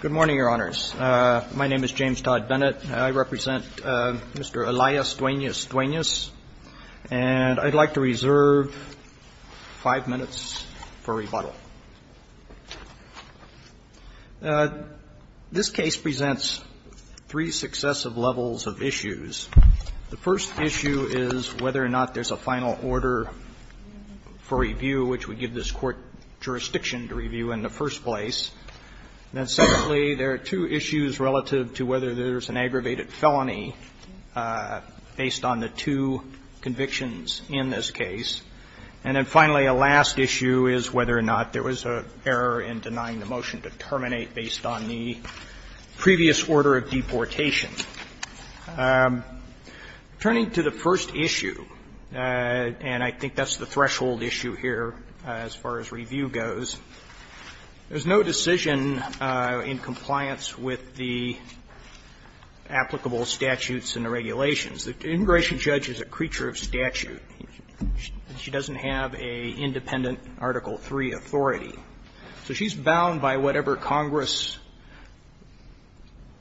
Good morning, Your Honors. My name is James Todd Bennett. I represent Mr. Elias Duenas-Duenas, and I'd like to reserve five minutes for rebuttal. This case presents three successive levels of issues. The first issue is whether or not there's a final order for review, which would give this Court jurisdiction to review in the first place. Then, secondly, there are two issues relative to whether there's an aggravated felony based on the two convictions in this case. And then, finally, a last issue is whether or not there was an error in denying the motion to terminate based on the previous order of deportation. Turning to the first issue, and I think that's the threshold issue here as far as review goes, there's no decision in compliance with the applicable statutes and the regulations. The integration judge is a creature of statute. She doesn't have an independent Article III authority. So she's bound by whatever Congress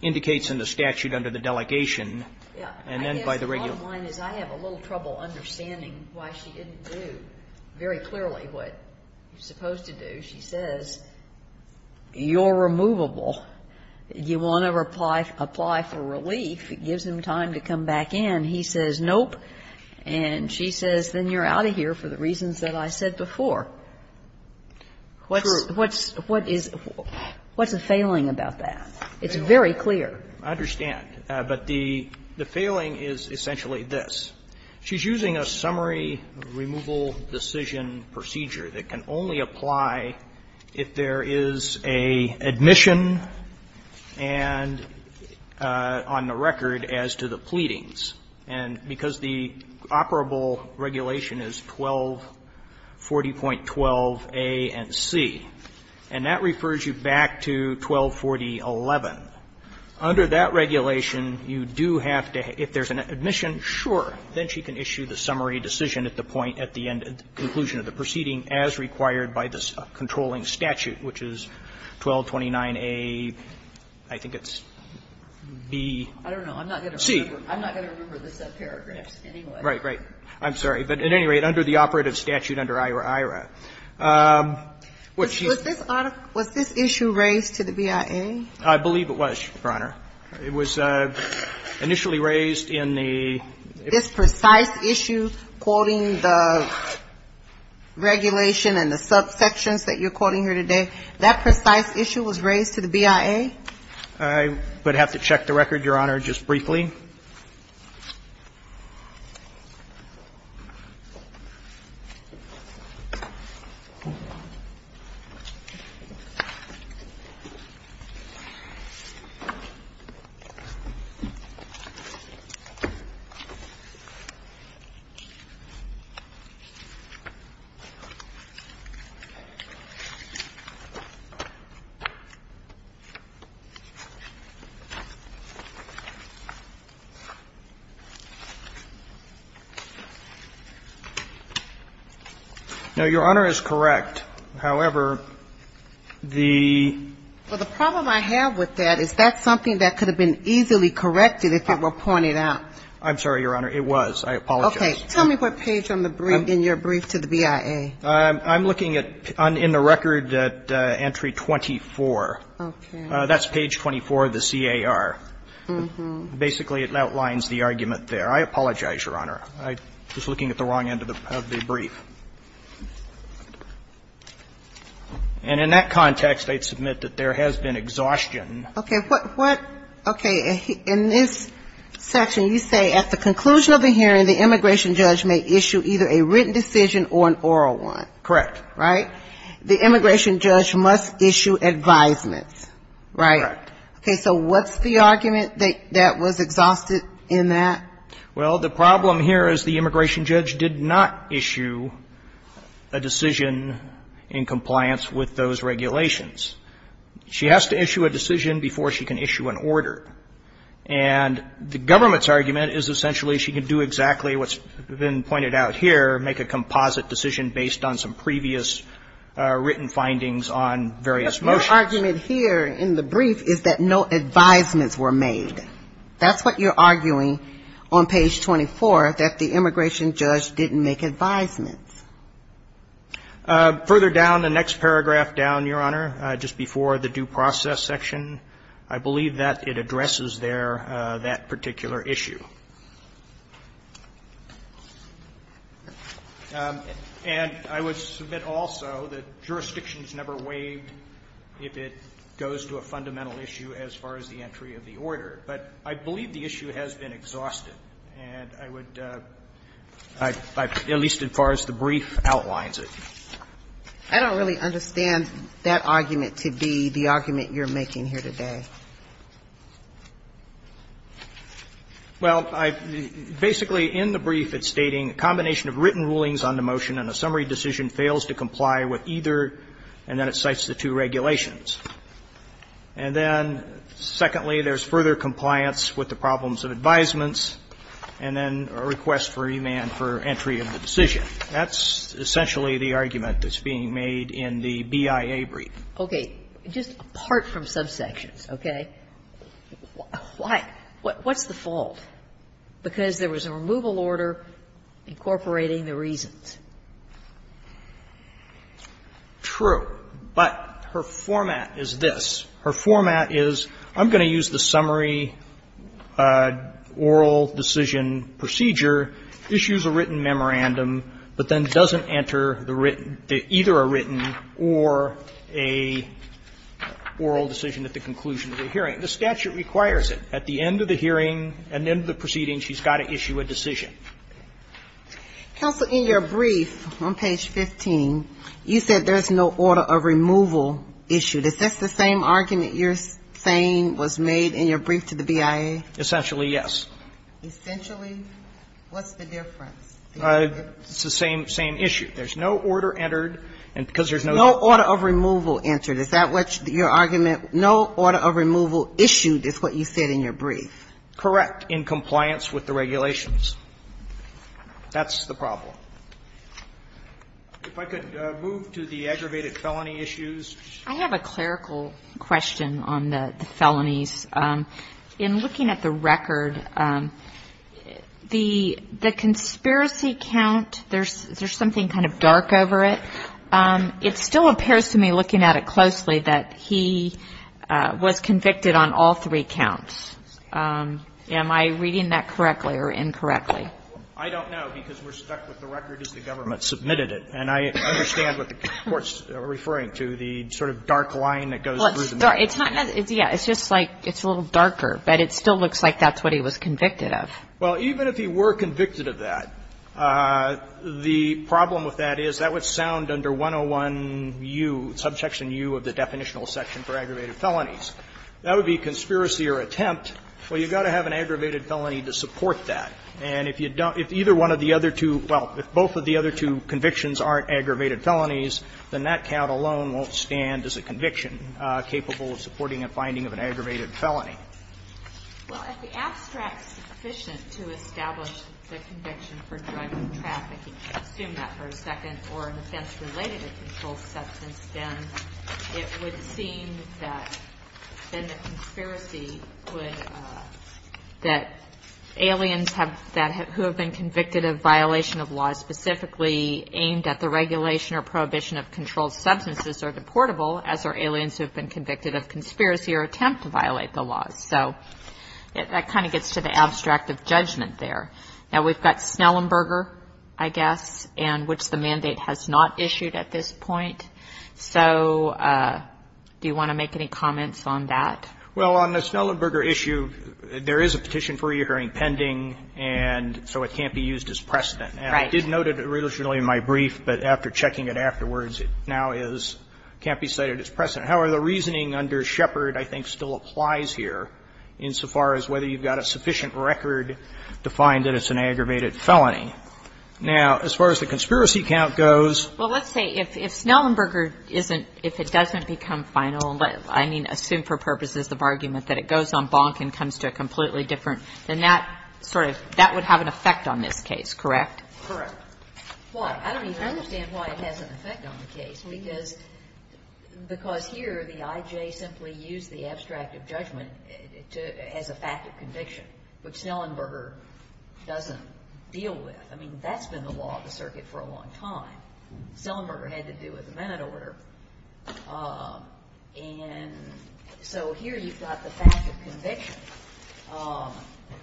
indicates in the statute under the delegation and then by the regulations. Yeah. The bottom line is I have a little trouble understanding why she didn't do very clearly what you're supposed to do. She says, you're removable. You want to apply for relief. It gives him time to come back in. He says, nope. And she says, then you're out of here for the reasons that I said before. What's a failing about that? It's very clear. I understand. But the failing is essentially this. She's using a summary removal decision procedure that can only apply if there is an admission and on the record as to the pleadings. And because the operable regulation is 1240.12a and c, and that refers you back to 1240.11. Under that regulation, you do have to have to have an admission, sure, then she can issue the summary decision at the point at the end of the conclusion of the proceeding as required by the controlling statute, which is 1229a, I think it's b. I don't know. I'm not going to remember the subparagraphs anyway. Right, right. I'm sorry. But at any rate, under the operative statute under IRA, IRA, which she's. Was this issue raised to the BIA? I believe it was, Your Honor. It was initially raised in the. This precise issue, quoting the regulation and the subsections that you're quoting here today, that precise issue was raised to the BIA? I would have to check the record, Your Honor, just briefly. Now, Your Honor is correct. However, the. Well, the problem I have with that is that's something that could have been easily corrected if it were pointed out. I'm sorry, Your Honor. It was. I apologize. Okay. Tell me what page on the brief, in your brief to the BIA. I'm looking at, in the record, at entry 24. Okay. That's page 24 of the CAR. Basically, it outlines the argument there. I apologize, Your Honor. I was looking at the wrong end of the brief. And in that context, I'd submit that there has been exhaustion. Okay. What? Okay. In this section, you say at the conclusion of the hearing, the immigration judge may issue either a written decision or an oral one. Correct. Right? The immigration judge must issue advisements, right? Correct. Okay. So what's the argument that was exhausted in that? Well, the problem here is the immigration judge did not issue a decision in compliance with those regulations. She has to issue a decision before she can issue an order. And the government's argument is essentially she can do exactly what's been pointed out here, make a composite decision based on some previous written findings on various motions. But your argument here in the brief is that no advisements were made. That's what you're arguing on page 24, that the immigration judge didn't make advisements. Further down, the next paragraph down, Your Honor, just before the due process section, I believe that it addresses there that particular issue. And I would submit also that jurisdictions never waived if it goes to a fundamental issue as far as the entry of the order. But I believe the issue has been exhausted. And I would at least as far as the brief outlines it. I don't really understand that argument to be the argument you're making here today. Well, basically in the brief it's stating a combination of written rulings on the motion and a summary decision fails to comply with either, and then it cites the two regulations. And then, secondly, there's further compliance with the problems of advisements and then a request for remand for entry of the decision. That's essentially the argument that's being made in the BIA brief. Okay. Just apart from subsections, okay? Why? What's the fault? Because there was a removal order incorporating the reasons. True. But her format is this. Her format is I'm going to use the summary oral decision procedure, issues a written memorandum, but then doesn't enter the written, either a written or a oral decision at the conclusion of the hearing. The statute requires it. At the end of the hearing, at the end of the proceeding, she's got to issue a decision. Counsel, in your brief on page 15, you said there's no order of removal issue. Is this the same argument you're saying was made in your brief to the BIA? Essentially, yes. Essentially, what's the difference? It's the same issue. There's no order entered, and because there's no order of removal entered. Is that what your argument, no order of removal issued is what you said in your brief? Correct, in compliance with the regulations. That's the problem. If I could move to the aggravated felony issues. I have a clerical question on the felonies. In looking at the record, the conspiracy count, there's something kind of dark over it. It still appears to me, looking at it closely, that he was convicted on all three counts. Am I reading that correctly or incorrectly? I don't know, because we're stuck with the record as the government submitted it. And I understand what the Court's referring to, the sort of dark line that goes through the middle. It's not, yeah, it's just like, it's a little darker, but it still looks like that's what he was convicted of. Well, even if he were convicted of that, the problem with that is that would sound under 101U, subsection U of the definitional section for aggravated felonies. That would be conspiracy or attempt. Well, you've got to have an aggravated felony to support that. And if you don't, if either one of the other two, well, if both of the other two convictions aren't aggravated felonies, then that count alone won't stand as a conviction capable of supporting a finding of an aggravated felony. Well, if the abstract is sufficient to establish the conviction for drug trafficking, assume that for a second, or an offense related to controlled substance, then it would seem that then the conspiracy would, that aliens have been involved in a drug trafficking who have been convicted of violation of laws specifically aimed at the regulation or prohibition of controlled substances are deportable, as are aliens who have been convicted of conspiracy or attempt to violate the laws. So that kind of gets to the abstract of judgment there. Now, we've got Snellenberger, I guess, and which the mandate has not issued at this point. So do you want to make any comments on that? Well, on the Snellenberger issue, there is a petition for reoccurring pending, and so it can't be used as precedent. Right. And I did note it originally in my brief, but after checking it afterwards, it now is, can't be cited as precedent. However, the reasoning under Shepard, I think, still applies here, insofar as whether you've got a sufficient record to find that it's an aggravated felony. Now, as far as the conspiracy count goes. Well, let's say if Snellenberger isn't, if it doesn't become final, but, I mean, assumed for purposes of argument, that it goes on bonk and comes to a completely different, then that sort of, that would have an effect on this case, correct? Correct. Why? I don't even understand why it has an effect on the case, because here the I.J. simply used the abstract of judgment as a fact of conviction, which Snellenberger doesn't deal with. I mean, that's been the law of the circuit for a long time. Snellenberger had to do with the men in order. And so here you've got the fact of conviction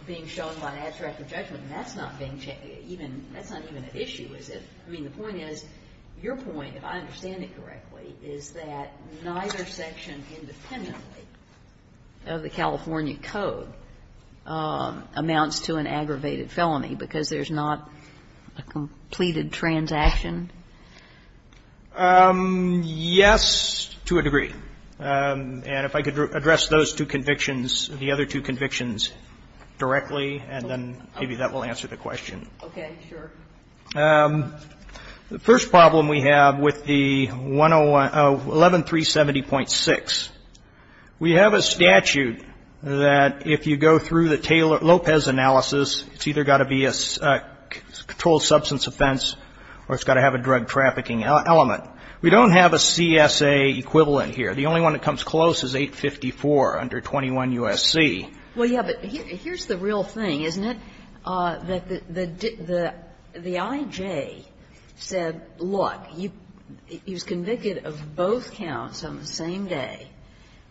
being shown by an abstract of judgment, and that's not being checked. That's not even an issue, is it? I mean, the point is, your point, if I understand it correctly, is that neither section independently of the California Code amounts to an aggravated felony, because there's not a completed transaction? Yes, to a degree. And if I could address those two convictions, the other two convictions, directly, and then maybe that will answer the question. Okay. Sure. The first problem we have with the 11370.6, we have a statute that if you go through the Taylor-Lopez analysis, it's either got to be a controlled substance offense or it's got to have a drug trafficking element. We don't have a CSA equivalent here. The only one that comes close is 854 under 21 U.S.C. Well, yes, but here's the real thing, isn't it? The I.J. said, look, he was convicted of both counts on the same day,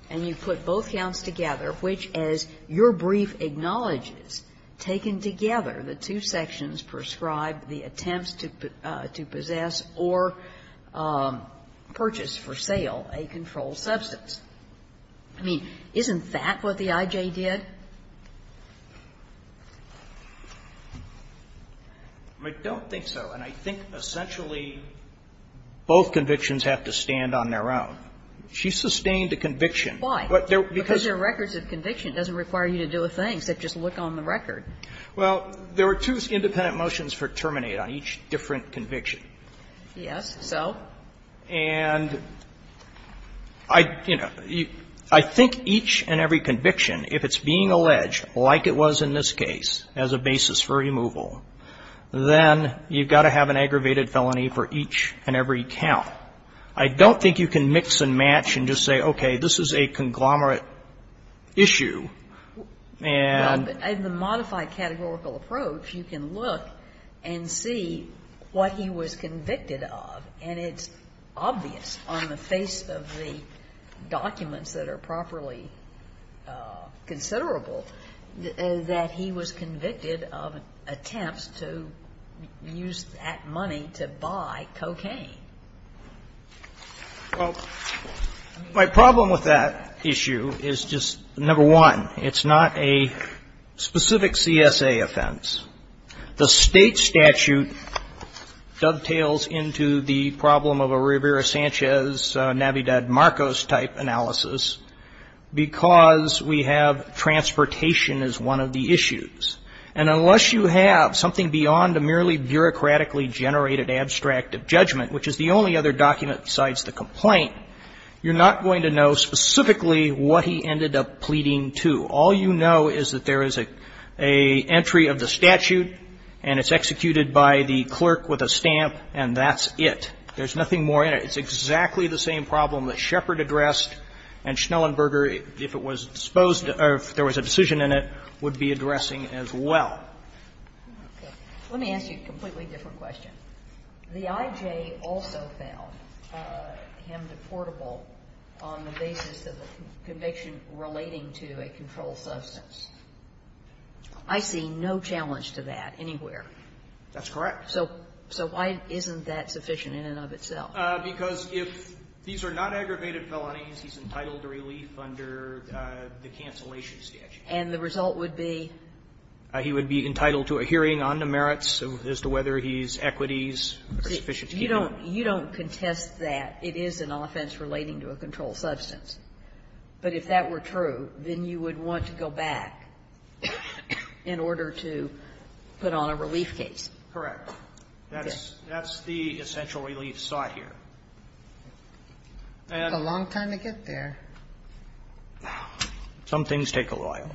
and you put both counts together, which, as your brief acknowledges, taken together, the two sections prescribed the attempts to possess or purchase for sale a controlled substance. I mean, isn't that what the I.J. did? I don't think so. And I think essentially both convictions have to stand on their own. She sustained a conviction. Why? Because there are records of conviction. It doesn't require you to do a thing, except just look on the record. Well, there were two independent motions for terminate on each different conviction. Yes. So? And I, you know, I think each and every conviction, if it's being alleged, like it was in this case, as a basis for removal, then you've got to have an aggravated felony for each and every count. I don't think you can mix and match and just say, okay, this is a conglomerate issue, and the modified version of the statute. I mean, you can't just say, okay, this is a conglomerate issue, and the modified categorical approach, you can look and see what he was convicted of, and it's obvious on the face of the documents that are properly considerable, that he was convicted of attempts to use that money to buy cocaine. Well, my problem with that issue is just, number one, it's not a specific CSA offense. The state statute dovetails into the problem of a Rivera-Sanchez, Navidad-Marcos type analysis, because we have transportation as one of the issues. And unless you have something beyond a merely bureaucratically generated abstract of judgment, which is the only other document besides the complaint, you're not going to know specifically what he ended up pleading to. All you know is that there is an entry of the statute, and it's executed by the clerk with a stamp, and that's it. There's nothing more in it. It's exactly the same problem that Shepard addressed and Schnellenberger, if it was disposed of, if there was a decision in it, would be addressing as well. Let me ask you a completely different question. The IJ also found him deportable on the basis of a conviction relating to a confrontation of a controlled substance. I see no challenge to that anywhere. That's correct. So why isn't that sufficient in and of itself? Because if these are not aggravated felonies, he's entitled to relief under the cancellation statute. And the result would be? He would be entitled to a hearing on the merits as to whether he's equities or sufficient to keep him. You don't contest that. It is an offense relating to a controlled substance. But if that were true, then you would want to go back in order to put on a relief case. Correct. That's the essential relief sought here. And the long time to get there. Some things take a while.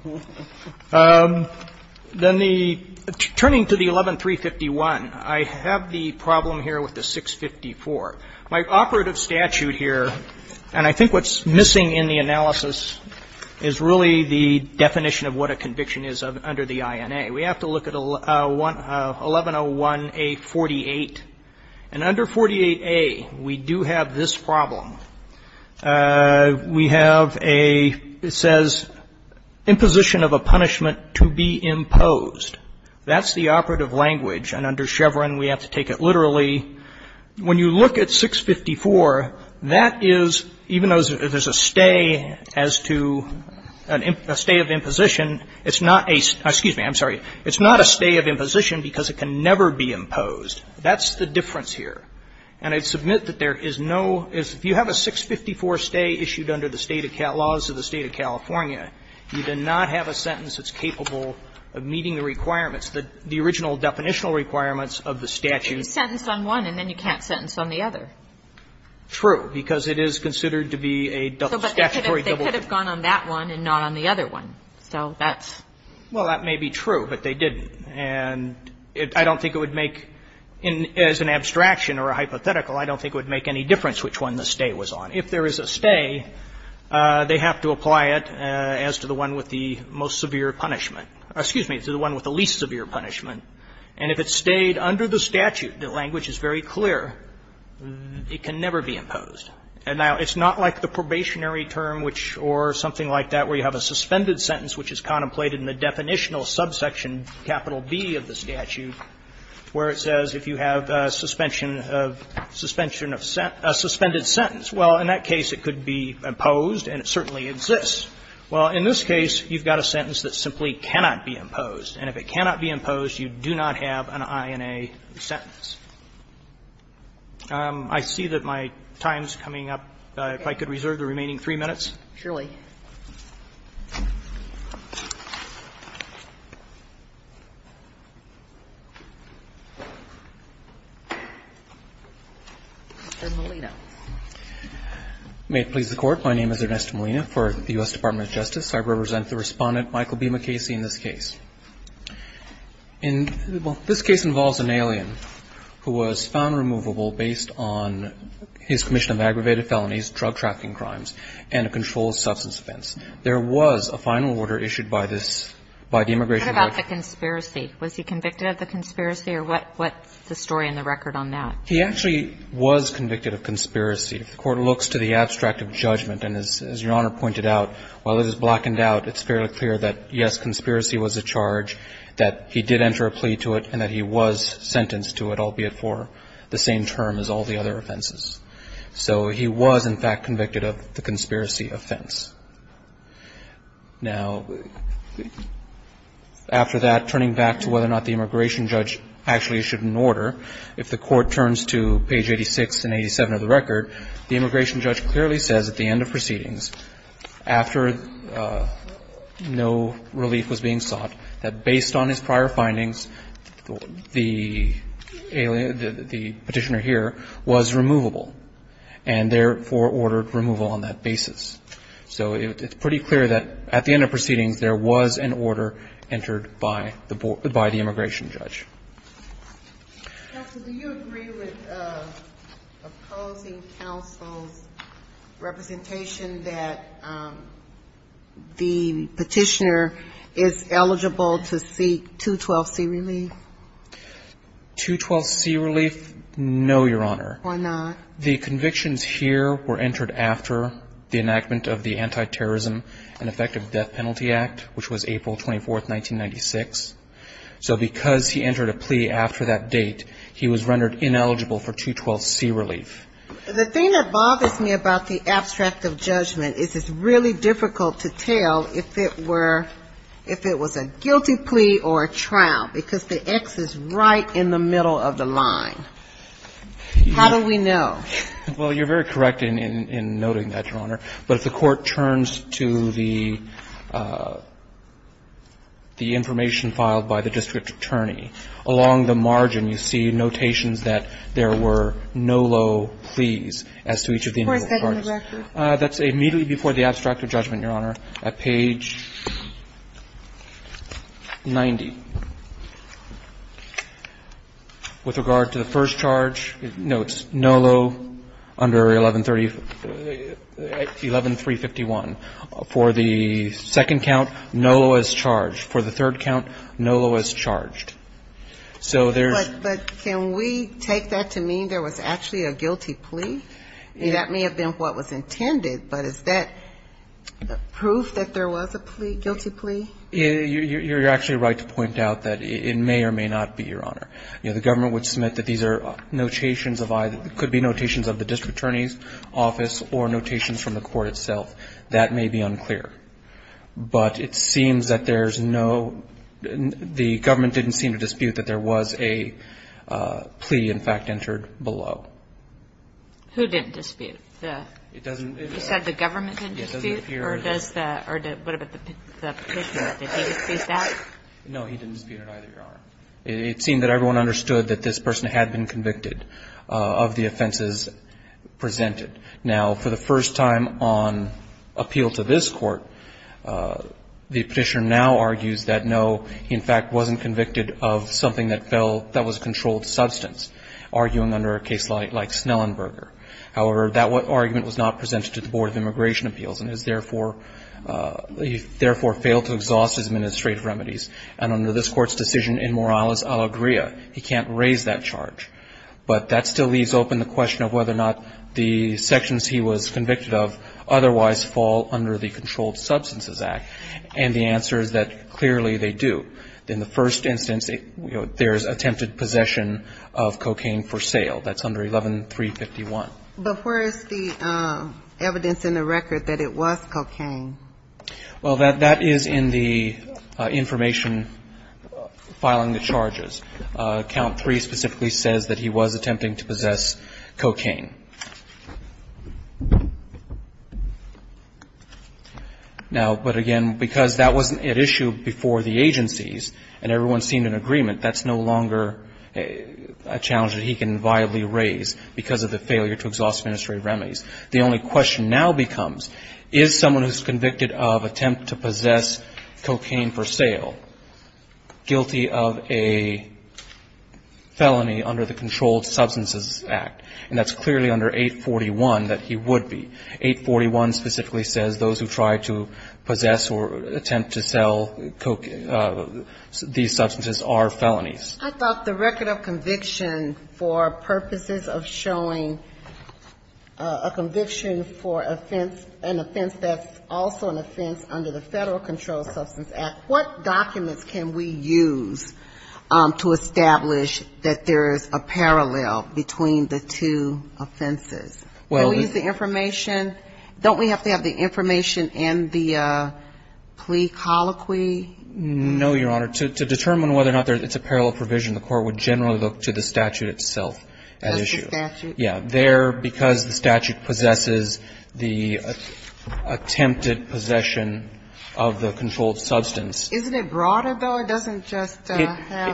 Then the ---- turning to the 11351, I have the problem here with the 654. My operative statute here, and I think what's missing in the analysis is really the definition of what a conviction is under the INA. We have to look at 1101A48. And under 48A, we do have this problem. We have a ---- it says, imposition of a punishment to be imposed. That's the operative language. And under Chevron, we have to take it literally. When you look at 654, that is, even though there's a stay as to a stay of imposition, it's not a ---- excuse me, I'm sorry. It's not a stay of imposition because it can never be imposed. That's the difference here. And I submit that there is no ---- if you have a 654 stay issued under the State of Cal ---- laws of the State of California, you do not have a sentence that's capable of meeting the requirements, the original definitional requirements of the statute. Kagan. And you can't sentence on one, and then you can't sentence on the other. True, because it is considered to be a statutory double-dip. But they could have gone on that one and not on the other one. So that's ---- Well, that may be true, but they didn't. And I don't think it would make, as an abstraction or a hypothetical, I don't think it would make any difference which one the stay was on. If there is a stay, they have to apply it as to the one with the most severe punishment ---- excuse me, to the one with the least severe punishment. And if it stayed under the statute, the language is very clear, it can never be imposed. And now, it's not like the probationary term which or something like that where you have a suspended sentence which is contemplated in the definitional subsection capital B of the statute, where it says if you have a suspension of ---- suspension of ---- a suspended sentence. Well, in that case, it could be imposed, and it certainly exists. Well, in this case, you've got a sentence that simply cannot be imposed. And if it cannot be imposed, you do not have an INA sentence. I see that my time is coming up. If I could reserve the remaining three minutes. Ms. Malina. May it please the Court. My name is Ernesto Malina for the U.S. Department of Justice. I represent the Respondent, Michael B. McKay, in this case. And this case involves an alien who was found removable based on his commission of aggravated felonies, drug trafficking crimes, and a controlled substance offense. There was a final order issued by this, by the immigration court. What about the conspiracy? Was he convicted of the conspiracy, or what's the story in the record on that? He actually was convicted of conspiracy. If the Court looks to the abstract of judgment, and as Your Honor pointed out, while this is blackened out, it's fairly clear that, yes, conspiracy was a charge, that he did enter a plea to it, and that he was sentenced to it, albeit for the same term as all the other offenses. So he was, in fact, convicted of the conspiracy offense. Now, after that, turning back to whether or not the immigration judge actually issued an order, if the Court turns to page 86 and 87 of the record, the immigration judge said that there was no relief was being sought, that based on his prior findings, the petitioner here was removable, and therefore ordered removal on that basis. So it's pretty clear that at the end of proceedings, there was an order entered by the immigration judge. Sotomayor, do you agree with opposing counsel's representation that the petitioner is eligible to seek 212C relief? 212C relief, no, Your Honor. Why not? The convictions here were entered after the enactment of the Anti-Terrorism and Effective Death Penalty Act, which was April 24, 1996. So because he entered a plea after that date, he was rendered ineligible for 212C relief. The thing that bothers me about the abstract of judgment is it's really difficult to tell if it were, if it was a guilty plea or a trial, because the X is right in the middle of the line. How do we know? Well, you're very correct in noting that, Your Honor. But if the Court turns to the information filed by the district attorney, along the margin, you see notations that there were no low pleas as to each of the individual parties. That's immediately before the abstract of judgment, Your Honor, at page 90. With regard to the first charge, no, it's no low under 1130. 11351. For the second count, no low as charged. For the third count, no low as charged. So there's -- But can we take that to mean there was actually a guilty plea? That may have been what was intended, but is that proof that there was a plea, guilty plea? You're actually right to point out that it may or may not be, Your Honor. The government would submit that these are notations of either, could be notations of the district attorney's office or notations from the Court itself. That may be unclear. But it seems that there's no, the government didn't seem to dispute that there was a plea, in fact, entered below. Who didn't dispute? The- It doesn't- You said the government didn't dispute, or does the, what about the petitioner? Did he dispute that? No, he didn't dispute it either, Your Honor. It seemed that everyone understood that this person had been convicted of the offenses presented. Now, for the first time on appeal to this court, the petitioner now argues that, no, he, in fact, wasn't convicted of something that fell, that was a controlled substance, arguing under a case like Snellenberger. However, that argument was not presented to the Board of Immigration Appeals, and is therefore, he therefore failed to exhaust his administrative remedies. And under this Court's decision, in moralis allegria, he can't raise that charge. But that still leaves open the question of whether or not the sections he was convicted of otherwise fall under the Controlled Substances Act. And the answer is that, clearly, they do. In the first instance, there is attempted possession of cocaine for sale. That's under 11351. But where is the evidence in the record that it was cocaine? Well, that is in the information filing the charges. Count 3 specifically says that he was attempting to possess cocaine. Now, but again, because that wasn't at issue before the agencies, and everyone's seen an agreement, that's no longer a challenge that he can viably raise because of the failure to exhaust administrative remedies. The only question now becomes, is someone who's convicted of attempt to possess cocaine for sale guilty of a felony under the Controlled Substances Act? And that's clearly under 841 that he would be. 841 specifically says those who try to possess or attempt to sell these substances are felonies. I thought the record of conviction for purposes of showing a conviction for an offense that's also an offense under the Federal Controlled Substance Act. What documents can we use to establish that there is a parallel between the two offenses? Do we use the information? Don't we have to have the information in the plea colloquy? No, Your Honor. To determine whether or not it's a parallel provision, the court would generally look to the statute itself at issue. That's the statute? Yeah. There, because the statute possesses the attempted possession of the controlled substance. Isn't it broader, though? It doesn't just have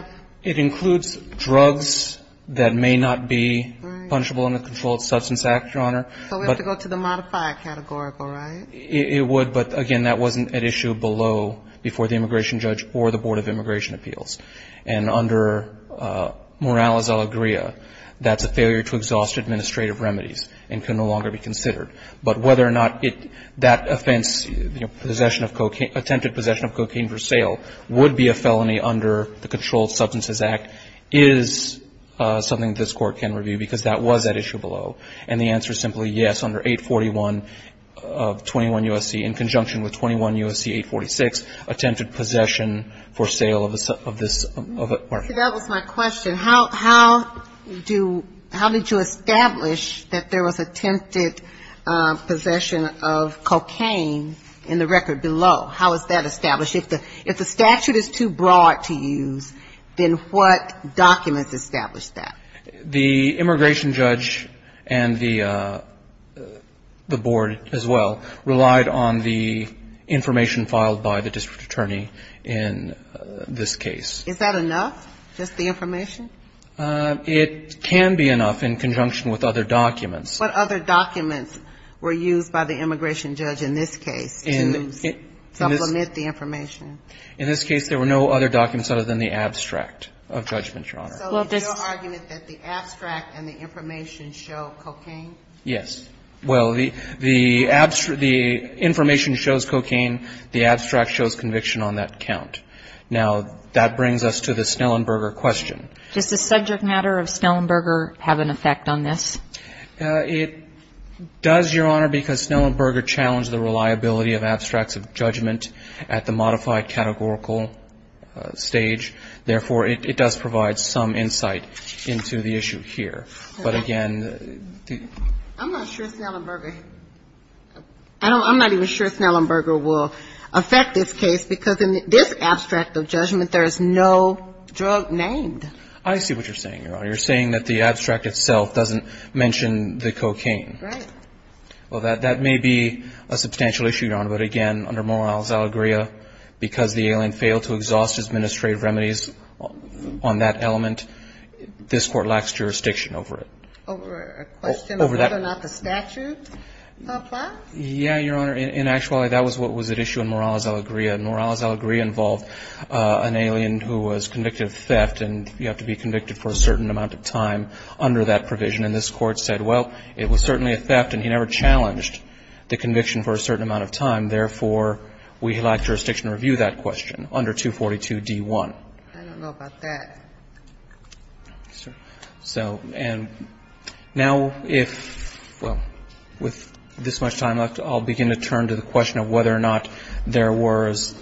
---- It includes drugs that may not be punishable under the Controlled Substances Act, Your Honor. So we have to go to the modifier categorical, right? It would, but, again, that wasn't at issue below before the immigration judge or the Board of Immigration Appeals. And under Morales-Alegria, that's a failure to exhaust administrative remedies and can no longer be considered. But whether or not that offense, attempted possession of cocaine for sale, would be a felony under the Controlled Substances Act is something this court can review because that was at issue below. And the answer is simply yes, under 841 of 21 U.S.C., in conjunction with 21 U.S.C. 846, attempted possession for sale of this. So that was my question. How did you establish that there was attempted possession of cocaine in the record below? How is that established? If the statute is too broad to use, then what documents establish that? The immigration judge and the board as well relied on the information filed by the district attorney in this case. Is that enough, just the information? It can be enough in conjunction with other documents. What other documents were used by the immigration judge in this case to supplement the information? In this case, there were no other documents other than the abstract of judgment, Your Honor. So it's your argument that the abstract and the information show cocaine? Yes. Well, the information shows cocaine. The abstract shows conviction on that count. Now, that brings us to the Snellenberger question. Does the subject matter of Snellenberger have an effect on this? It does, Your Honor, because Snellenberger challenged the reliability of abstracts of judgment at the modified categorical stage. Therefore, it does provide some insight into the issue here. But again, the ---- I'm not sure Snellenberger ---- I'm not even sure Snellenberger will affect this case, because in this abstract of judgment, there is no drug named. I see what you're saying, Your Honor. You're saying that the abstract itself doesn't mention the cocaine. Right. Well, that may be a substantial issue, Your Honor, but again, under Morales Alegría, because the alien failed to exhaust his administrative remedies on that element, this Court lacks jurisdiction over it. Over a question of whether or not the statute applies? Yeah, Your Honor. In actuality, that was what was at issue in Morales Alegría. Morales Alegría involved an alien who was convicted of theft, and you have to be convicted for a certain amount of time under that provision. And this Court said, well, it was certainly a theft, and he never challenged the conviction for a certain amount of time. And therefore, we lack jurisdiction to review that question under 242d-1. I don't know about that. So, and now if ---- well, with this much time left, I'll begin to turn to the question of whether or not there was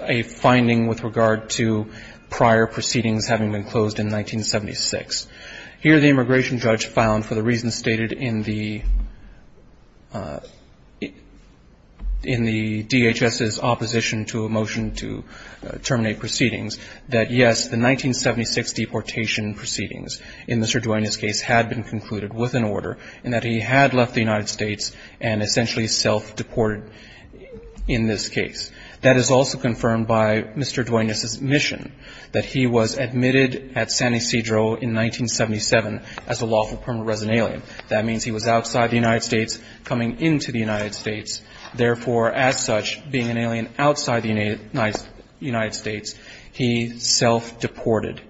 a finding with regard to prior proceedings having been closed in 1976. Here, the immigration judge found, for the reasons stated in the ---- in the immigration judge's report, the DHS's opposition to a motion to terminate proceedings, that, yes, the 1976 deportation proceedings in Mr. Duenas' case had been concluded with an order, and that he had left the United States and essentially self-deported in this case. That is also confirmed by Mr. Duenas' admission that he was admitted at San Ysidro in 1977 as a lawful permanent resident alien. That means he was outside the United States, coming into the United States. Therefore, as such, being an alien outside the United States, he self-deported.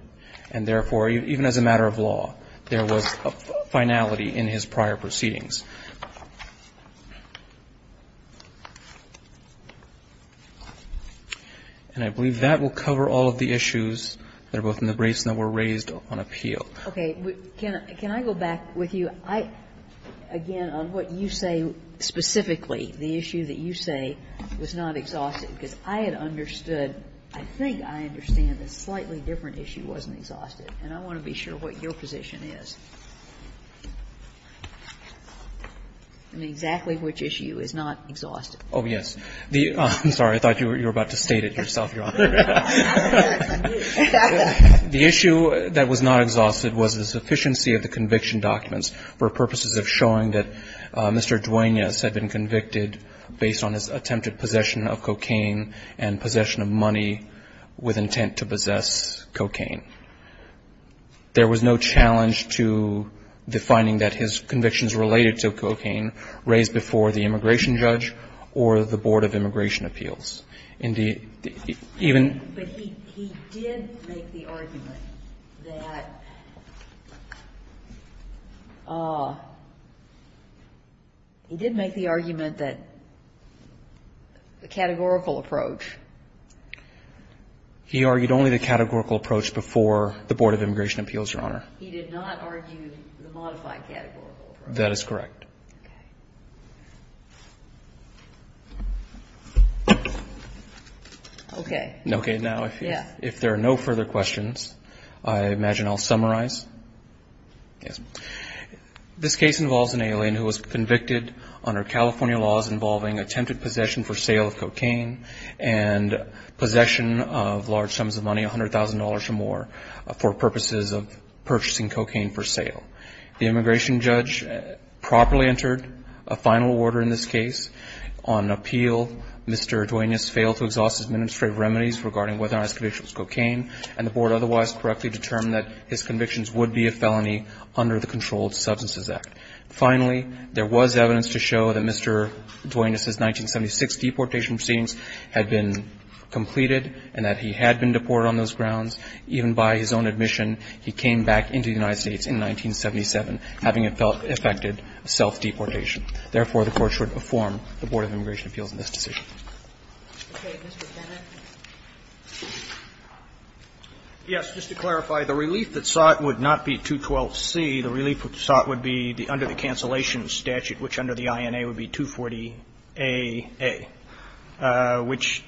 And therefore, even as a matter of law, there was a finality in his prior proceedings. And I believe that will cover all of the issues that are both in the briefs and that were raised on appeal. Okay. Can I go back with you? I, again, on what you say specifically, the issue that you say was not exhausted. Because I had understood, I think I understand, a slightly different issue wasn't exhausted. And I want to be sure what your position is on exactly which issue is not exhausted. Oh, yes. The ---- I'm sorry. I thought you were about to state it yourself, Your Honor. The issue that was not exhausted was the sufficiency of the conviction documents for purposes of showing that Mr. Duenas had been convicted based on his attempted possession of cocaine and possession of money with intent to possess cocaine. There was no challenge to the finding that his convictions related to cocaine raised before the immigration judge or the Board of Immigration Appeals. But he did make the argument that he did make the argument that the categorical approach. He argued only the categorical approach before the Board of Immigration Appeals, Your Honor. He did not argue the modified categorical approach. That is correct. Okay. Okay. Now, if there are no further questions, I imagine I'll summarize. Yes. This case involves an alien who was convicted under California laws involving attempted possession for sale of cocaine and possession of large sums of money, $100,000 or more, for purposes of purchasing cocaine for sale. The immigration judge properly entered a final order in this case on appeal. Mr. Duenas failed to exhaust his administrative remedies regarding whether or not his conviction was cocaine, and the Board otherwise correctly determined that his convictions would be a felony under the Controlled Substances Act. Finally, there was evidence to show that Mr. Duenas' 1976 deportation proceedings had been completed and that he had been deported on those grounds. Even by his own admission, he came back into the United States in 1977, having affected self-deportation. Therefore, the Court should inform the Board of Immigration Appeals in this decision. Okay. Mr. Bennett. Yes. Just to clarify, the relief that sought would not be 212C. The relief sought would be under the cancellation statute, which under the INA would be 240AA, which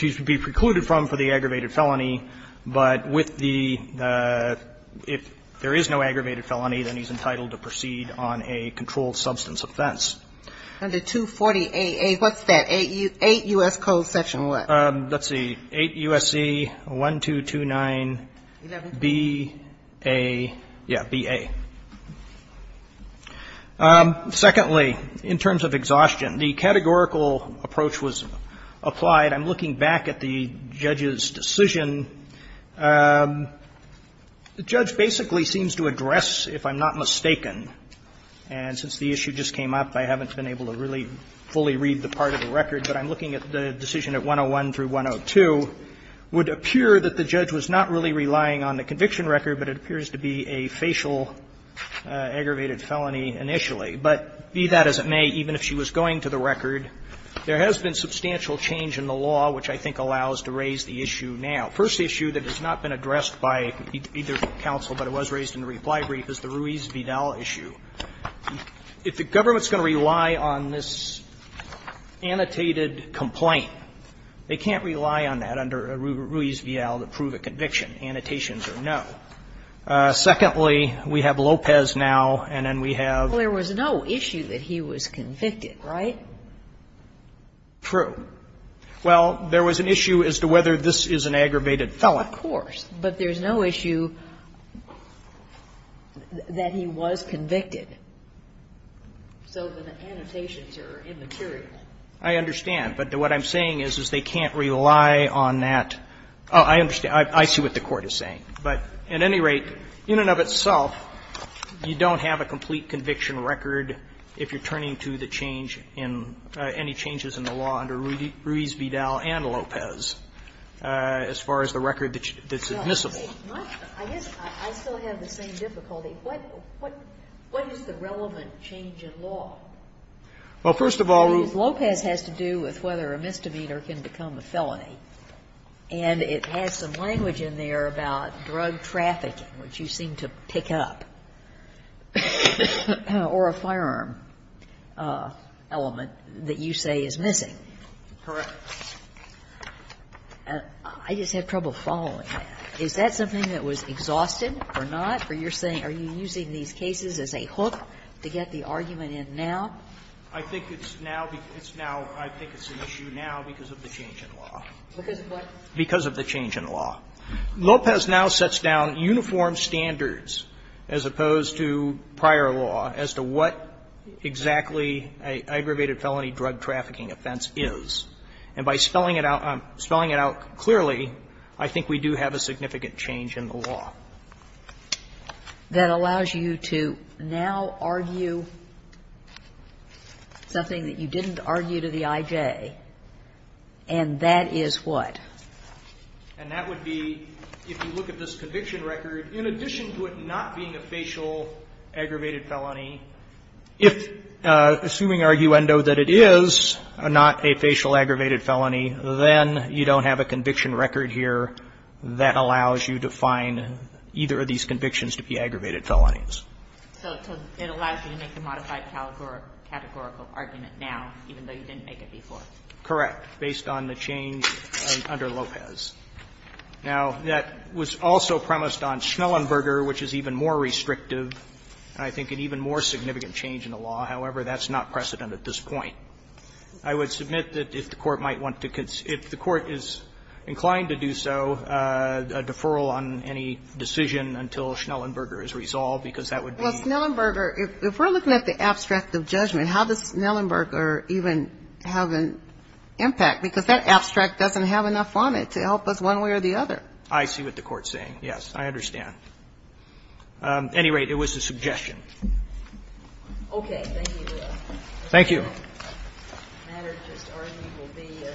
he would be precluded from for the aggravated felony. But with the – if there is no aggravated felony, then he's entitled to proceed on a controlled substance offense. Under 240AA, what's that? Eight U.S. codes section what? Let's see. 8 U.S.C. 1229BA. Yeah, BA. Secondly, in terms of exhaustion, the categorical approach was applied. I'm looking back at the judge's decision. The judge basically seems to address, if I'm not mistaken, and since the issue just came up, I haven't been able to really fully read the part of the record, but I'm looking at the decision at 101 through 102, would appear that the judge was not really concerned about the aggravated felony initially. But be that as it may, even if she was going to the record, there has been substantial change in the law which I think allows to raise the issue now. The first issue that has not been addressed by either counsel, but it was raised in the reply brief, is the Ruiz-Vidal issue. If the government's going to rely on this annotated complaint, they can't rely on that under Ruiz-Vidal to prove a conviction. Annotations are no. Secondly, we have Lopez now, and then we have ---- Well, there was no issue that he was convicted, right? True. Well, there was an issue as to whether this is an aggravated felony. Of course. But there's no issue that he was convicted. So the annotations are immaterial. I understand. But what I'm saying is, is they can't rely on that. I understand. I see what the Court is saying. But at any rate, in and of itself, you don't have a complete conviction record if you're turning to the change in any changes in the law under Ruiz-Vidal and Lopez as far as the record that's admissible. I guess I still have the same difficulty. What is the relevant change in law? Well, first of all, Ruth. If Lopez has to do with whether a misdemeanor can become a felony, and it has some language in there about drug trafficking, which you seem to pick up, or a firearm element that you say is missing. Correct. I just have trouble following that. Is that something that was exhausted or not? Are you using these cases as a hook to get the argument in now? I think it's now an issue now because of the change in law. Because of what? Because of the change in law. Lopez now sets down uniform standards as opposed to prior law as to what exactly an aggravated felony drug trafficking offense is. And by spelling it out clearly, I think we do have a significant change in the law. That allows you to now argue something that you didn't argue to the IJ. And that is what? And that would be, if you look at this conviction record, in addition to it not being a facial aggravated felony, if assuming arguendo that it is not a facial aggravated felony, then you don't have a conviction record here that allows you to find either of these convictions to be aggravated felonies. So it allows you to make a modified categorical argument now, even though you didn't make it before? Correct. Based on the change under Lopez. Now, that was also premised on Schnellenberger, which is even more restrictive and I think an even more significant change in the law. However, that's not precedent at this point. I would submit that if the Court might want to consider, if the Court is inclined to do so, a deferral on any decision until Schnellenberger is resolved, because that would be. Well, Schnellenberger, if we're looking at the abstract of judgment, how does Schnellenberger even have an impact? Because that abstract doesn't have enough on it to help us one way or the other. I see what the Court is saying. Yes. I understand. At any rate, it was a suggestion. Thank you, Your Honor. Thank you. The matter just argued will be a subpoena.